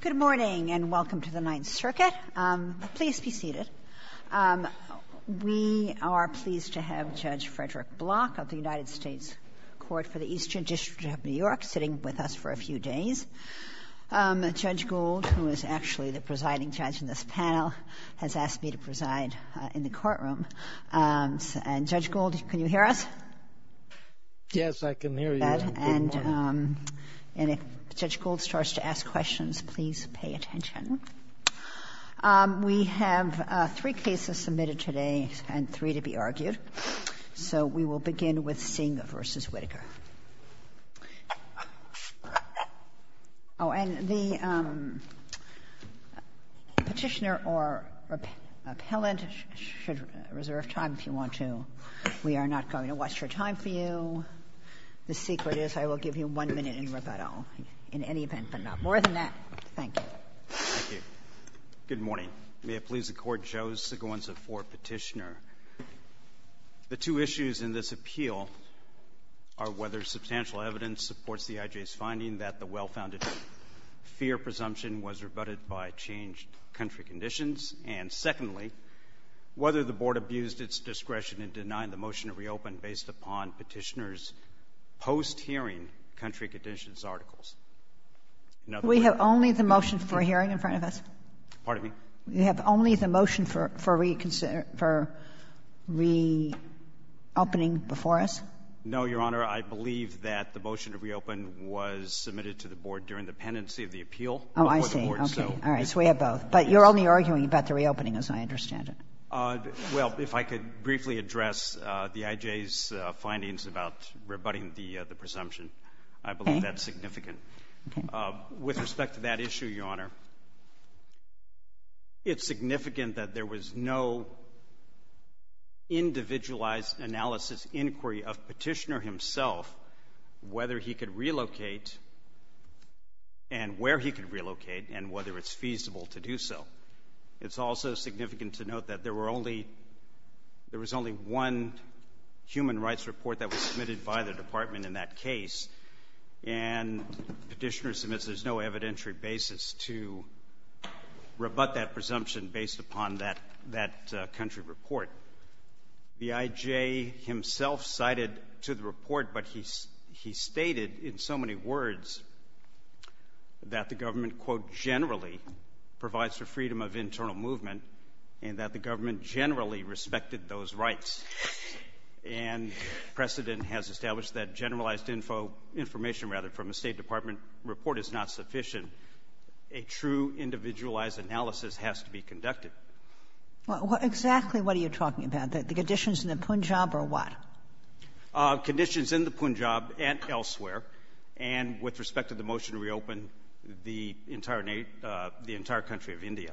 Good morning and welcome to the Ninth Circuit. Please be seated. We are pleased to have Judge Frederick Block of the United States Court for the Eastern District of New York sitting with us for a few days. Judge Gould, who is actually the presiding judge in this panel, has asked me to preside in the courtroom. Judge Gould, can you hear us? Yes, I can hear you. Good morning. And if Judge Gould starts to ask questions, please pay attention. We have three cases submitted today and three to be argued. So we will begin with Singh v. Whitaker. Oh, and the Petitioner or Appellant should reserve time if you want to. We are not going to waste your time for you. The secret is I will give you one minute in rebuttal in any event, but not more than that. Thank you. Thank you. Good morning. May it please the Court, Joseph Sigons of Ford, Petitioner. The two issues in this appeal are whether substantial evidence supports the IJ's finding that the well-founded fear presumption was rebutted by changed country conditions, and, secondly, whether the Board abused its discretion in denying the motion to reopen based upon Petitioner's post-hearing country conditions articles. We have only the motion for hearing in front of us? Pardon me? We have only the motion for reopening before us? No, Your Honor. I believe that the motion to reopen was submitted to the Board during the pendency of the appeal before the Board. Oh, I see. Okay. All right. So we have both. But you're only arguing about the reopening, as I understand it. Well, if I could briefly address the IJ's findings about rebutting the presumption. I believe that's significant. Okay. With respect to that issue, Your Honor, it's significant that there was no individualized analysis inquiry of Petitioner himself whether he could relocate and where he could relocate and whether it's feasible to do so. It's also significant to note that there was only one human rights report that was submitted by the Department in that case, and Petitioner submits there's no evidentiary basis to rebut that presumption based upon that country report. The IJ himself cited to the report, but he stated in so many words that the government, quote, generally provides for freedom of internal movement and that the government generally respected those rights. And precedent has established that generalized information from a State Department report is not sufficient. A true individualized analysis has to be conducted. Exactly what are you talking about, the conditions in the Punjab or what? Conditions in the Punjab and elsewhere, and with respect to the motion to reopen the entire country of India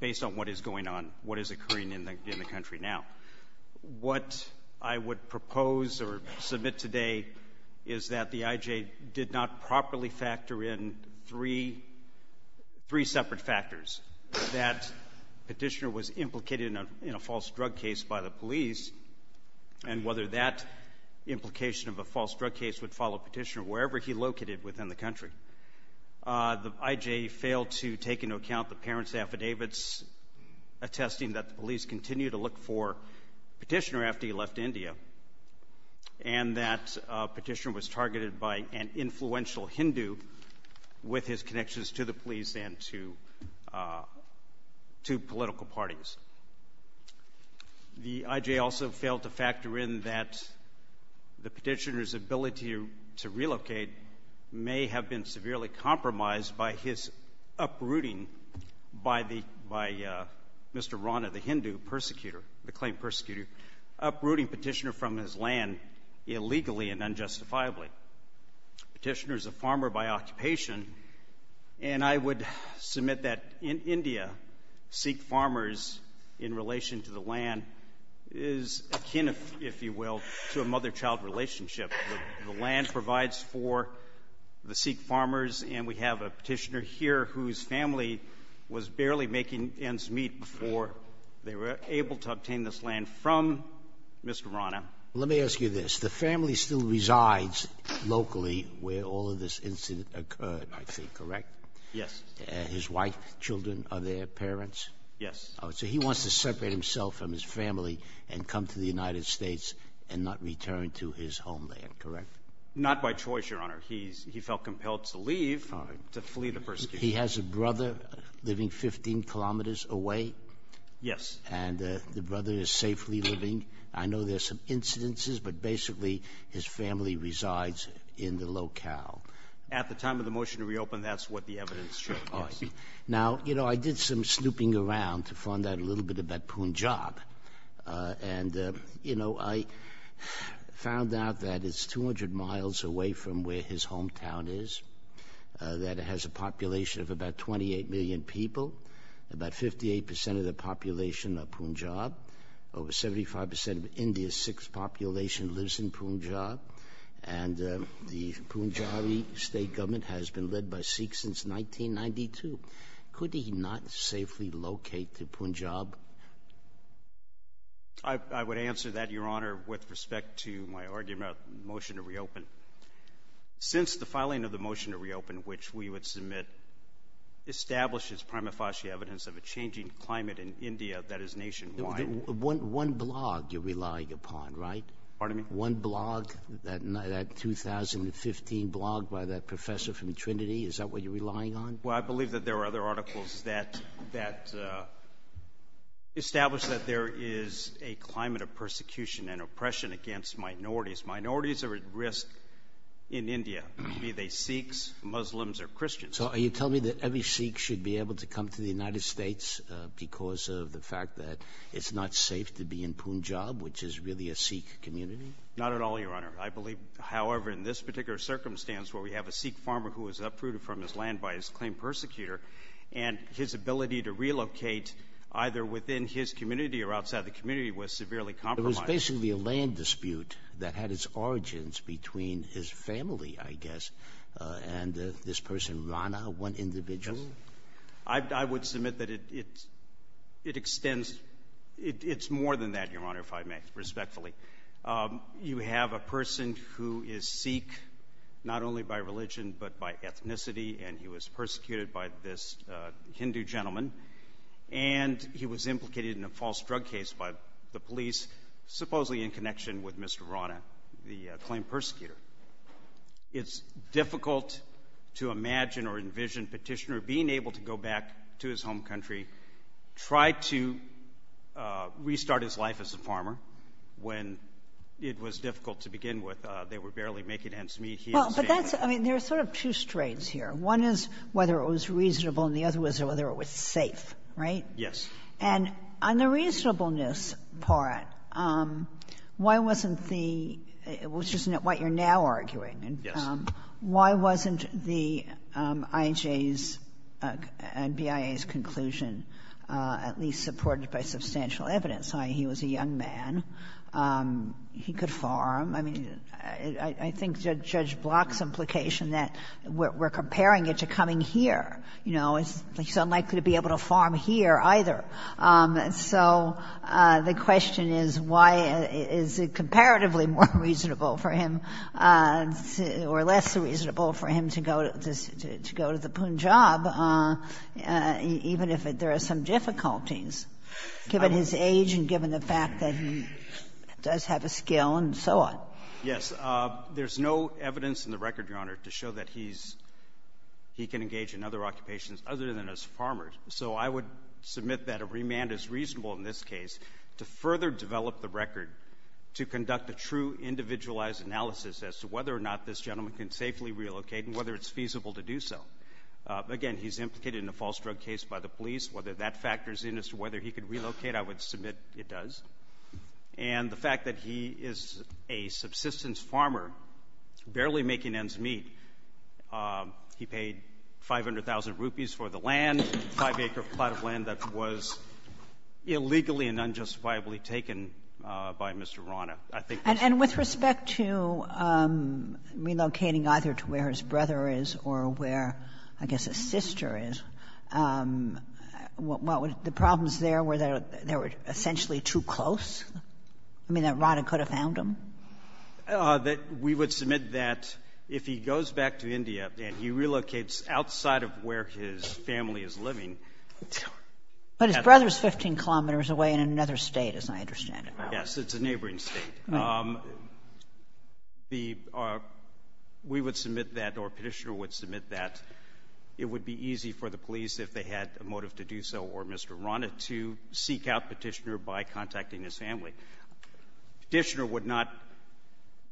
based on what is going on, what is occurring in the country now. What I would propose or submit today is that the IJ did not properly factor in three separate factors, that Petitioner was implicated in a false drug case by the police, and whether that implication of a false drug case would follow Petitioner wherever he located within the country. The IJ failed to take into account the parents' affidavits attesting that the police continued to look for Petitioner after he left India, and that Petitioner was targeted by an influential Hindu with his connections to the police and to political parties. The IJ also failed to factor in that the Petitioner's ability to relocate may have been severely compromised by his uprooting by Mr. Rana, the Hindu, the claimed persecutor, uprooting Petitioner from his land illegally and unjustifiably. Petitioner is a farmer by occupation, and I would submit that in India, Sikh farmers in relation to the land is akin, if you will, to a mother-child relationship. The land provides for the Sikh farmers, and we have a Petitioner here whose family was barely making ends meet before they were able to obtain this land from Mr. Rana. Let me ask you this. The family still resides locally where all of this incident occurred, I think, correct? Yes. His wife, children, are their parents? Yes. So he wants to separate himself from his family and come to the United States and not return to his homeland, correct? Not by choice, Your Honor. He felt compelled to leave, to flee the persecution. He has a brother living 15 kilometers away? Yes. And the brother is safely living? I know there are some incidences, but basically his family resides in the locale. At the time of the motion to reopen, that's what the evidence showed. Now, you know, I did some snooping around to find out a little bit about Punjab, and, you know, I found out that it's 200 miles away from where his hometown is, that it has a population of about 28 million people. About 58 percent of the population are Punjab. Over 75 percent of India's Sikh population lives in Punjab. And the Punjabi state government has been led by Sikhs since 1992. Could he not safely locate to Punjab? I would answer that, Your Honor, with respect to my argument about the motion to reopen. Since the filing of the motion to reopen, which we would submit, establishes prima facie evidence of a changing climate in India that is nationwide. One blog you're relying upon, right? Pardon me? One blog, that 2015 blog by that professor from Trinity, is that what you're relying on? Well, I believe that there are other articles that establish that there is a climate of persecution and oppression against minorities. Minorities are at risk in India, be they Sikhs, Muslims, or Christians. So are you telling me that every Sikh should be able to come to the United States because of the fact that it's not safe to be in Punjab, which is really a Sikh community? Not at all, Your Honor. I believe, however, in this particular circumstance where we have a Sikh farmer who was uprooted from his land by his claimed persecutor, and his ability to relocate either within his community or outside the community was severely compromised. It was basically a land dispute that had its origins between his family, I guess, and this person, Rana, one individual? Yes. I would submit that it extends. It's more than that, Your Honor, if I may, respectfully. You have a person who is Sikh not only by religion but by ethnicity, and he was persecuted by this Hindu gentleman, and he was implicated in a false drug case by the police, supposedly in connection with Mr. Rana, the claimed persecutor. It's difficult to imagine or envision Petitioner being able to go back to his home country, try to restart his life as a farmer when it was difficult to begin with. They were barely making ends meet. Well, but that's — I mean, there are sort of two strains here. One is whether it was reasonable, and the other was whether it was safe, right? Yes. And on the reasonableness part, why wasn't the — which is what you're now arguing. Yes. Why wasn't the IJ's and BIA's conclusion at least supported by substantial evidence, i.e., he was a young man, he could farm? I mean, I think Judge Block's implication that we're comparing it to coming here. You know, he's unlikely to be able to farm here either. So the question is why is it comparatively more reasonable for him or less reasonable for him to go to the Punjab, even if there are some difficulties, given his age and given the fact that he does have a skill and so on? Yes. There's no evidence in the record, Your Honor, to show that he's — he can engage in other occupations other than as a farmer. So I would submit that a remand is reasonable in this case to further develop the record to conduct a true individualized analysis as to whether or not this gentleman can safely relocate and whether it's feasible to do so. Again, he's implicated in a false drug case by the police. Whether that factors in as to whether he can relocate, I would submit it does. And the fact that he is a subsistence farmer barely making ends meet, he paid 500,000 rupees for the land, 5-acre plot of land that was illegally and unjustifiably taken by Mr. Rana. And with respect to relocating either to where his brother is or where, I guess, his brother is, the problems there were that they were essentially too close? I mean, that Rana could have found him? That we would submit that if he goes back to India and he relocates outside of where his family is living — But his brother is 15 kilometers away in another State, as I understand it. Yes. It's a neighboring State. Right. The — we would submit that, or Petitioner would submit that it would be easy for the police, if they had a motive to do so, or Mr. Rana, to seek out Petitioner by contacting his family. Petitioner would not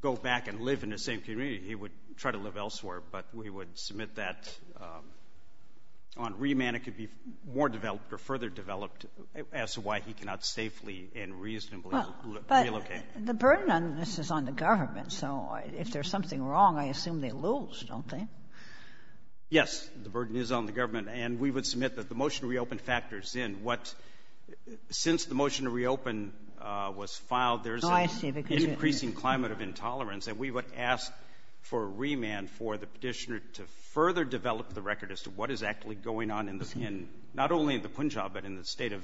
go back and live in the same community. He would try to live elsewhere. But we would submit that on remand it could be more developed or further developed as to why he cannot safely and reasonably relocate. But the burden on this is on the government. So if there's something wrong, I assume they lose, don't they? Yes, the burden is on the government. And we would submit that the motion to reopen factors in what — since the motion to reopen was filed, there's an increasing climate of intolerance. And we would ask for remand for the Petitioner to further develop the record as to what is actually going on in the — not only in the Punjab, but in the State of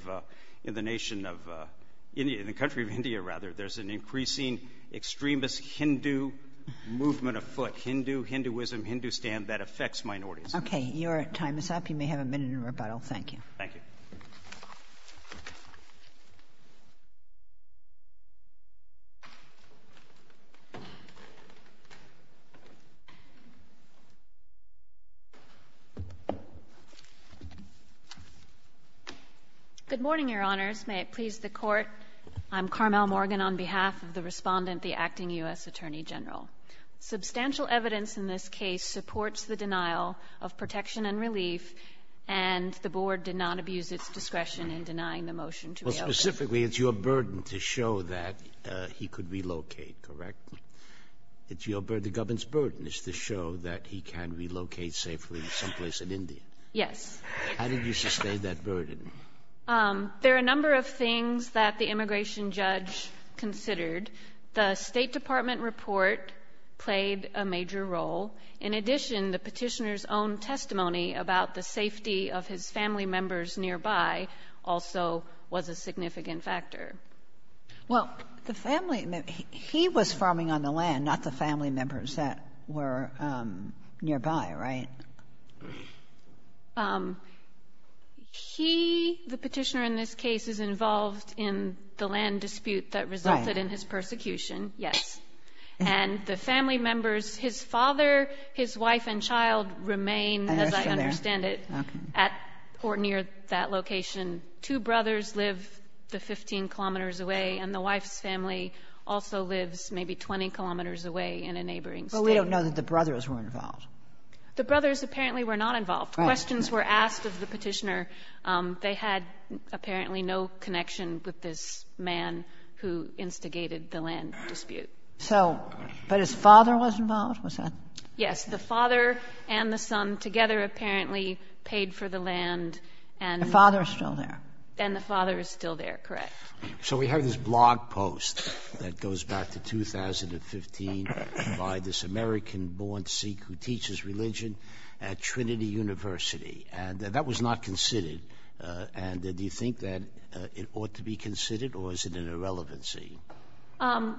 — in the nation of — in the country of India, rather. There's an increasing extremist Hindu movement afoot — Hindu, Hinduism, Hindustan — that affects minorities. Okay. Your time is up. You may have a minute in rebuttal. Thank you. Thank you. Good morning, Your Honors. May it please the Court, I'm Carmel Morgan on behalf of the Respondent, the acting U.S. Attorney General. Substantial evidence in this case supports the denial of protection and relief, and the Board did not abuse its discretion in denying the motion to reopen. Well, specifically, it's your burden to show that he could relocate, correct? It's your — the government's burden is to show that he can relocate safely someplace in India. Yes. How did you sustain that burden? There are a number of things that the immigration judge considered. The State Department report played a major role. In addition, the petitioner's own testimony about the safety of his family members nearby also was a significant factor. Well, the family — he was farming on the land, not the family members that were nearby, right? He, the petitioner in this case, is involved in the land dispute that resulted in his persecution, yes. And the family members, his father, his wife and child, remain, as I understand it, at or near that location. Two brothers live the 15 kilometers away, and the wife's family also lives maybe 20 kilometers away in a neighboring state. But we don't know that the brothers were involved. The brothers apparently were not involved. Questions were asked of the petitioner. They had apparently no connection with this man who instigated the land dispute. So — but his father was involved? Was that — Yes. The father and the son together apparently paid for the land and — The father is still there. And the father is still there, correct. So we have this blog post that goes back to 2015 by this American-born Sikh who teaches religion at Trinity University. And that was not considered. And do you think that it ought to be considered, or is it an irrelevancy?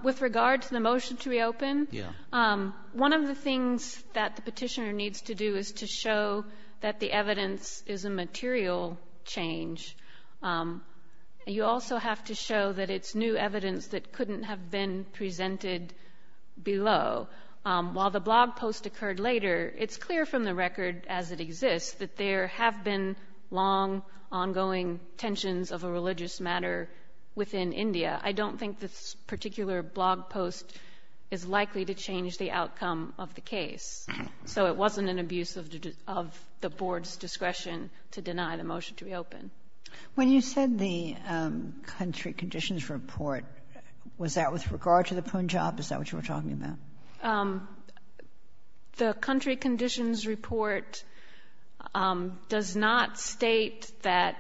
With regard to the motion to reopen, one of the things that the petitioner needs to do is to show that the evidence is a material change. You also have to show that it's new evidence that couldn't have been presented below. While the blog post occurred later, it's clear from the record as it exists that there have been long, ongoing tensions of a religious matter within India. I don't think this particular blog post is likely to change the outcome of the case. So it wasn't an abuse of the board's discretion to deny the motion to reopen. When you said the country conditions report, was that with regard to the Punjab? Is that what you were talking about? The country conditions report does not state that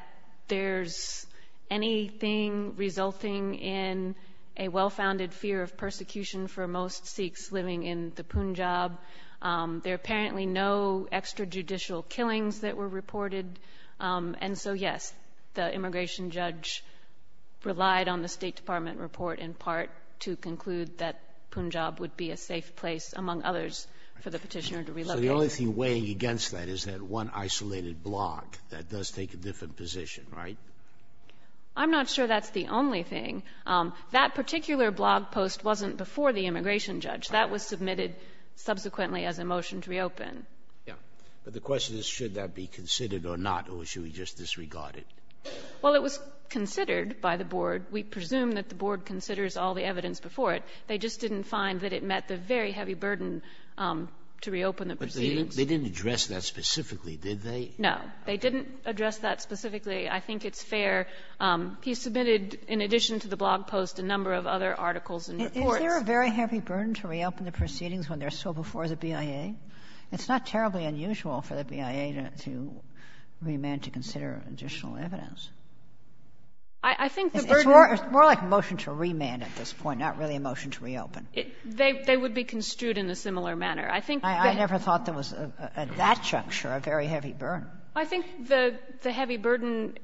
there's anything resulting in a well-founded fear of persecution for most Sikhs living in the Punjab. There are apparently no extrajudicial killings that were reported. And so, yes, the immigration judge relied on the State of Punjab would be a safe place, among others, for the petitioner to relocate. So the only thing weighing against that is that one isolated blog, that does take a different position, right? I'm not sure that's the only thing. That particular blog post wasn't before the immigration judge. That was submitted subsequently as a motion to reopen. Yeah. But the question is, should that be considered or not, or should we just disregard it? Well, it was considered by the board. We presume that the board considers all the evidence before it. They just didn't find that it met the very heavy burden to reopen the proceedings. But they didn't address that specifically, did they? No. They didn't address that specifically. I think it's fair. He submitted, in addition to the blog post, a number of other articles and reports. Is there a very heavy burden to reopen the proceedings when they're so before the BIA? It's not terribly unusual for the BIA to remand to consider additional evidence. I think the burden It's more like a motion to remand at this point, not really a motion to reopen. They would be construed in a similar manner. I think that I never thought there was at that juncture a very heavy burden. I think the heavy burden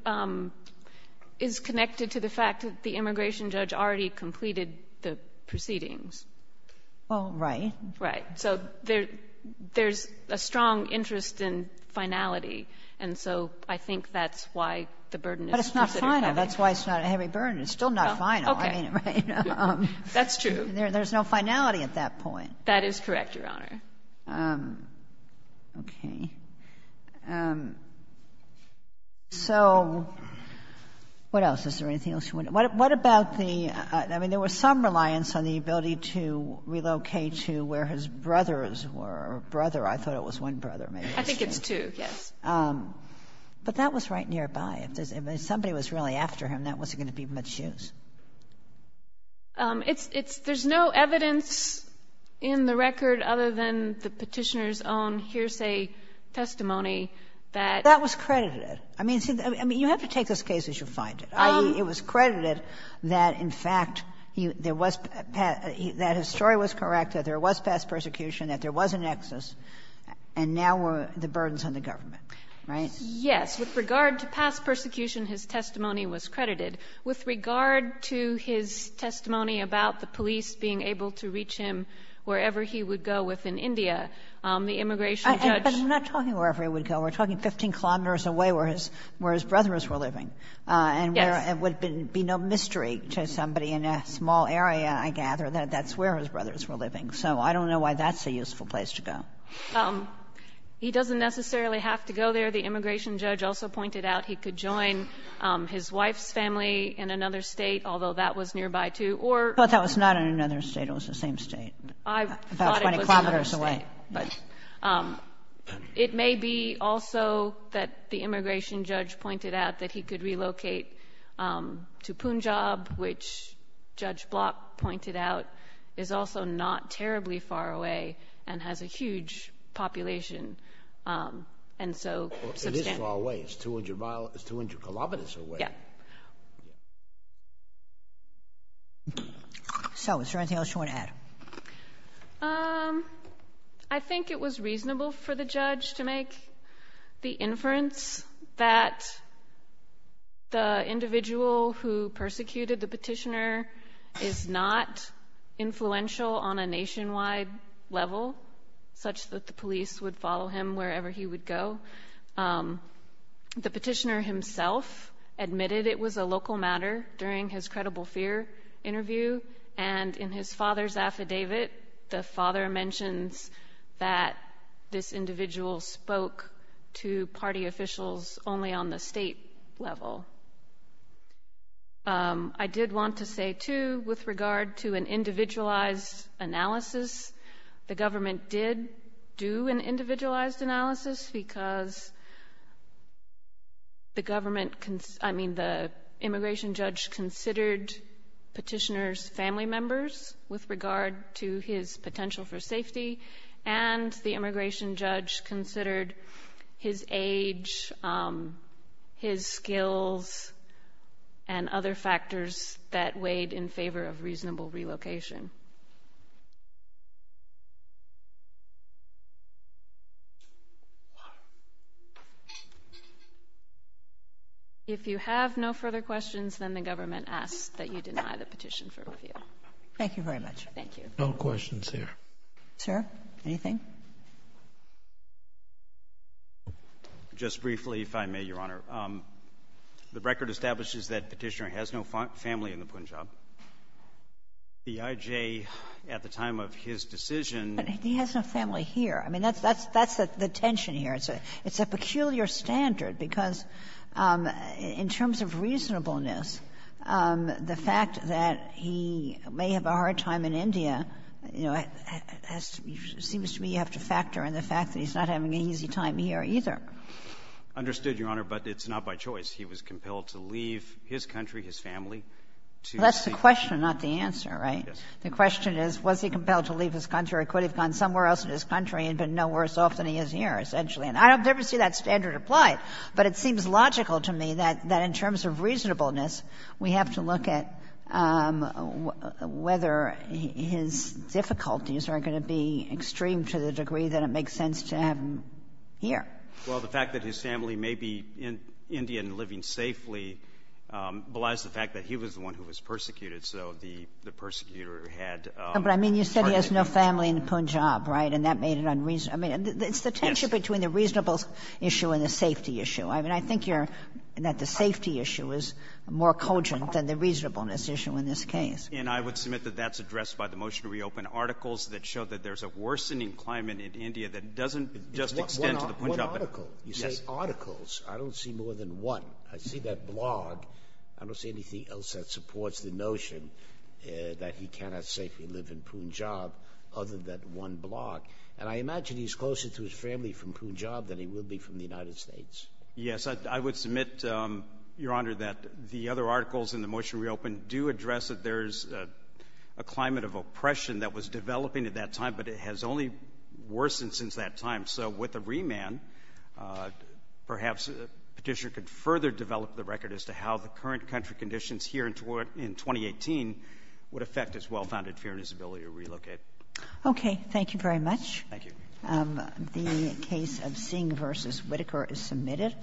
is connected to the fact that the immigration judge already completed the proceedings. Well, right. Right. So there's a strong interest in finality. And so I think that's why the burden is considered heavy. But it's not final. That's why it's not a heavy burden. It's still not final. Okay. I mean, right? That's true. There's no finality at that point. That is correct, Your Honor. Okay. So what else? Is there anything else you want to ask? What about the — I mean, there was some reliance on the ability to relocate to where his brothers were. Brother. I thought it was one brother. I think it's two, yes. But that was right nearby. If somebody was really after him, that wasn't going to be much use. It's — there's no evidence in the record other than the Petitioner's own hearsay testimony that — That was credited. I mean, you have to take this case as you find it. I mean, it was credited that, in fact, there was — that his story was correct, that there was past persecution, that there was a nexus, and now were the burdens on the government, right? Yes. With regard to past persecution, his testimony was credited. With regard to his testimony about the police being able to reach him wherever he would go within India, the immigration judge — But I'm not talking wherever he would go. We're talking 15 kilometers away where his brothers were living. Yes. And where it would be no mystery to somebody in a small area, I gather, that that's where his brothers were living. So I don't know why that's a useful place to go. He doesn't necessarily have to go there. The immigration judge also pointed out he could join his wife's family in another State, although that was nearby, too, or — But that was not in another State. It was the same State. I thought it was another State. About 20 kilometers away. But it may be also that the immigration judge pointed out that he could relocate to Punjab, which Judge Block pointed out is also not terribly far away and has a huge population, and so — It is far away. It's 200 kilometers away. Yeah. So, is there anything else you want to add? I think it was reasonable for the judge to make the inference that the individual who persecuted the petitioner is not influential on a nationwide level, such that the police would follow him wherever he would go. The petitioner himself admitted it was a local matter during his credible fear interview, and in his father's affidavit, the father mentions that this individual spoke to party officials only on the State level. I did want to say, too, with regard to an individualized analysis, the government did do an individualized analysis because the government — I mean, the immigration judge considered petitioners family members with regard to his potential for safety, and the and other factors that weighed in favor of reasonable relocation. If you have no further questions, then the government asks that you deny the petition for review. Thank you very much. Thank you. No questions here. Sir, anything? Just briefly, if I may, Your Honor. The record establishes that Petitioner has no family in the Punjab. The IJ, at the time of his decision — But he has no family here. I mean, that's the tension here. It's a peculiar standard, because in terms of reasonableness, the fact that he may have a hard time in India, you know, seems to me you have to factor in the fact that he's not having an easy time here, either. Understood, Your Honor, but it's not by choice. He was compelled to leave his country, his family, to seek — Well, that's the question, not the answer, right? Yes. The question is, was he compelled to leave his country or could he have gone somewhere else in his country and been no worse off than he is here, essentially. And I don't ever see that standard applied. But it seems logical to me that in terms of reasonableness, we have to look at whether his difficulties are going to be extreme to the degree that it makes sense to have him here. Well, the fact that his family may be in India and living safely belies the fact that he was the one who was persecuted, so the persecutor had — But, I mean, you said he has no family in Punjab, right, and that made it unreasonable. I mean, it's the tension between the reasonable issue and the safety issue. I mean, I think you're — that the safety issue is more cogent than the reasonableness issue in this case. And I would submit that that's addressed by the motion to reopen, articles that show that there's a worsening climate in India that doesn't just extend to the Punjabi. One article. You say articles. I don't see more than one. I see that blog. I don't see anything else that supports the notion that he cannot safely live in Punjab other than one blog. And I imagine he's closer to his family from Punjab than he will be from the United States. Yes. I would submit, Your Honor, that the other articles in the motion to reopen do address that there's a climate of oppression that was developing at that time, but it has only worsened since that time. So with a remand, perhaps Petitioner could further develop the record as to how the current country conditions here in 2018 would affect his well-founded fear and his ability to relocate. Okay. Thank you very much. Thank you. The case of Singh v. Whitaker is submitted.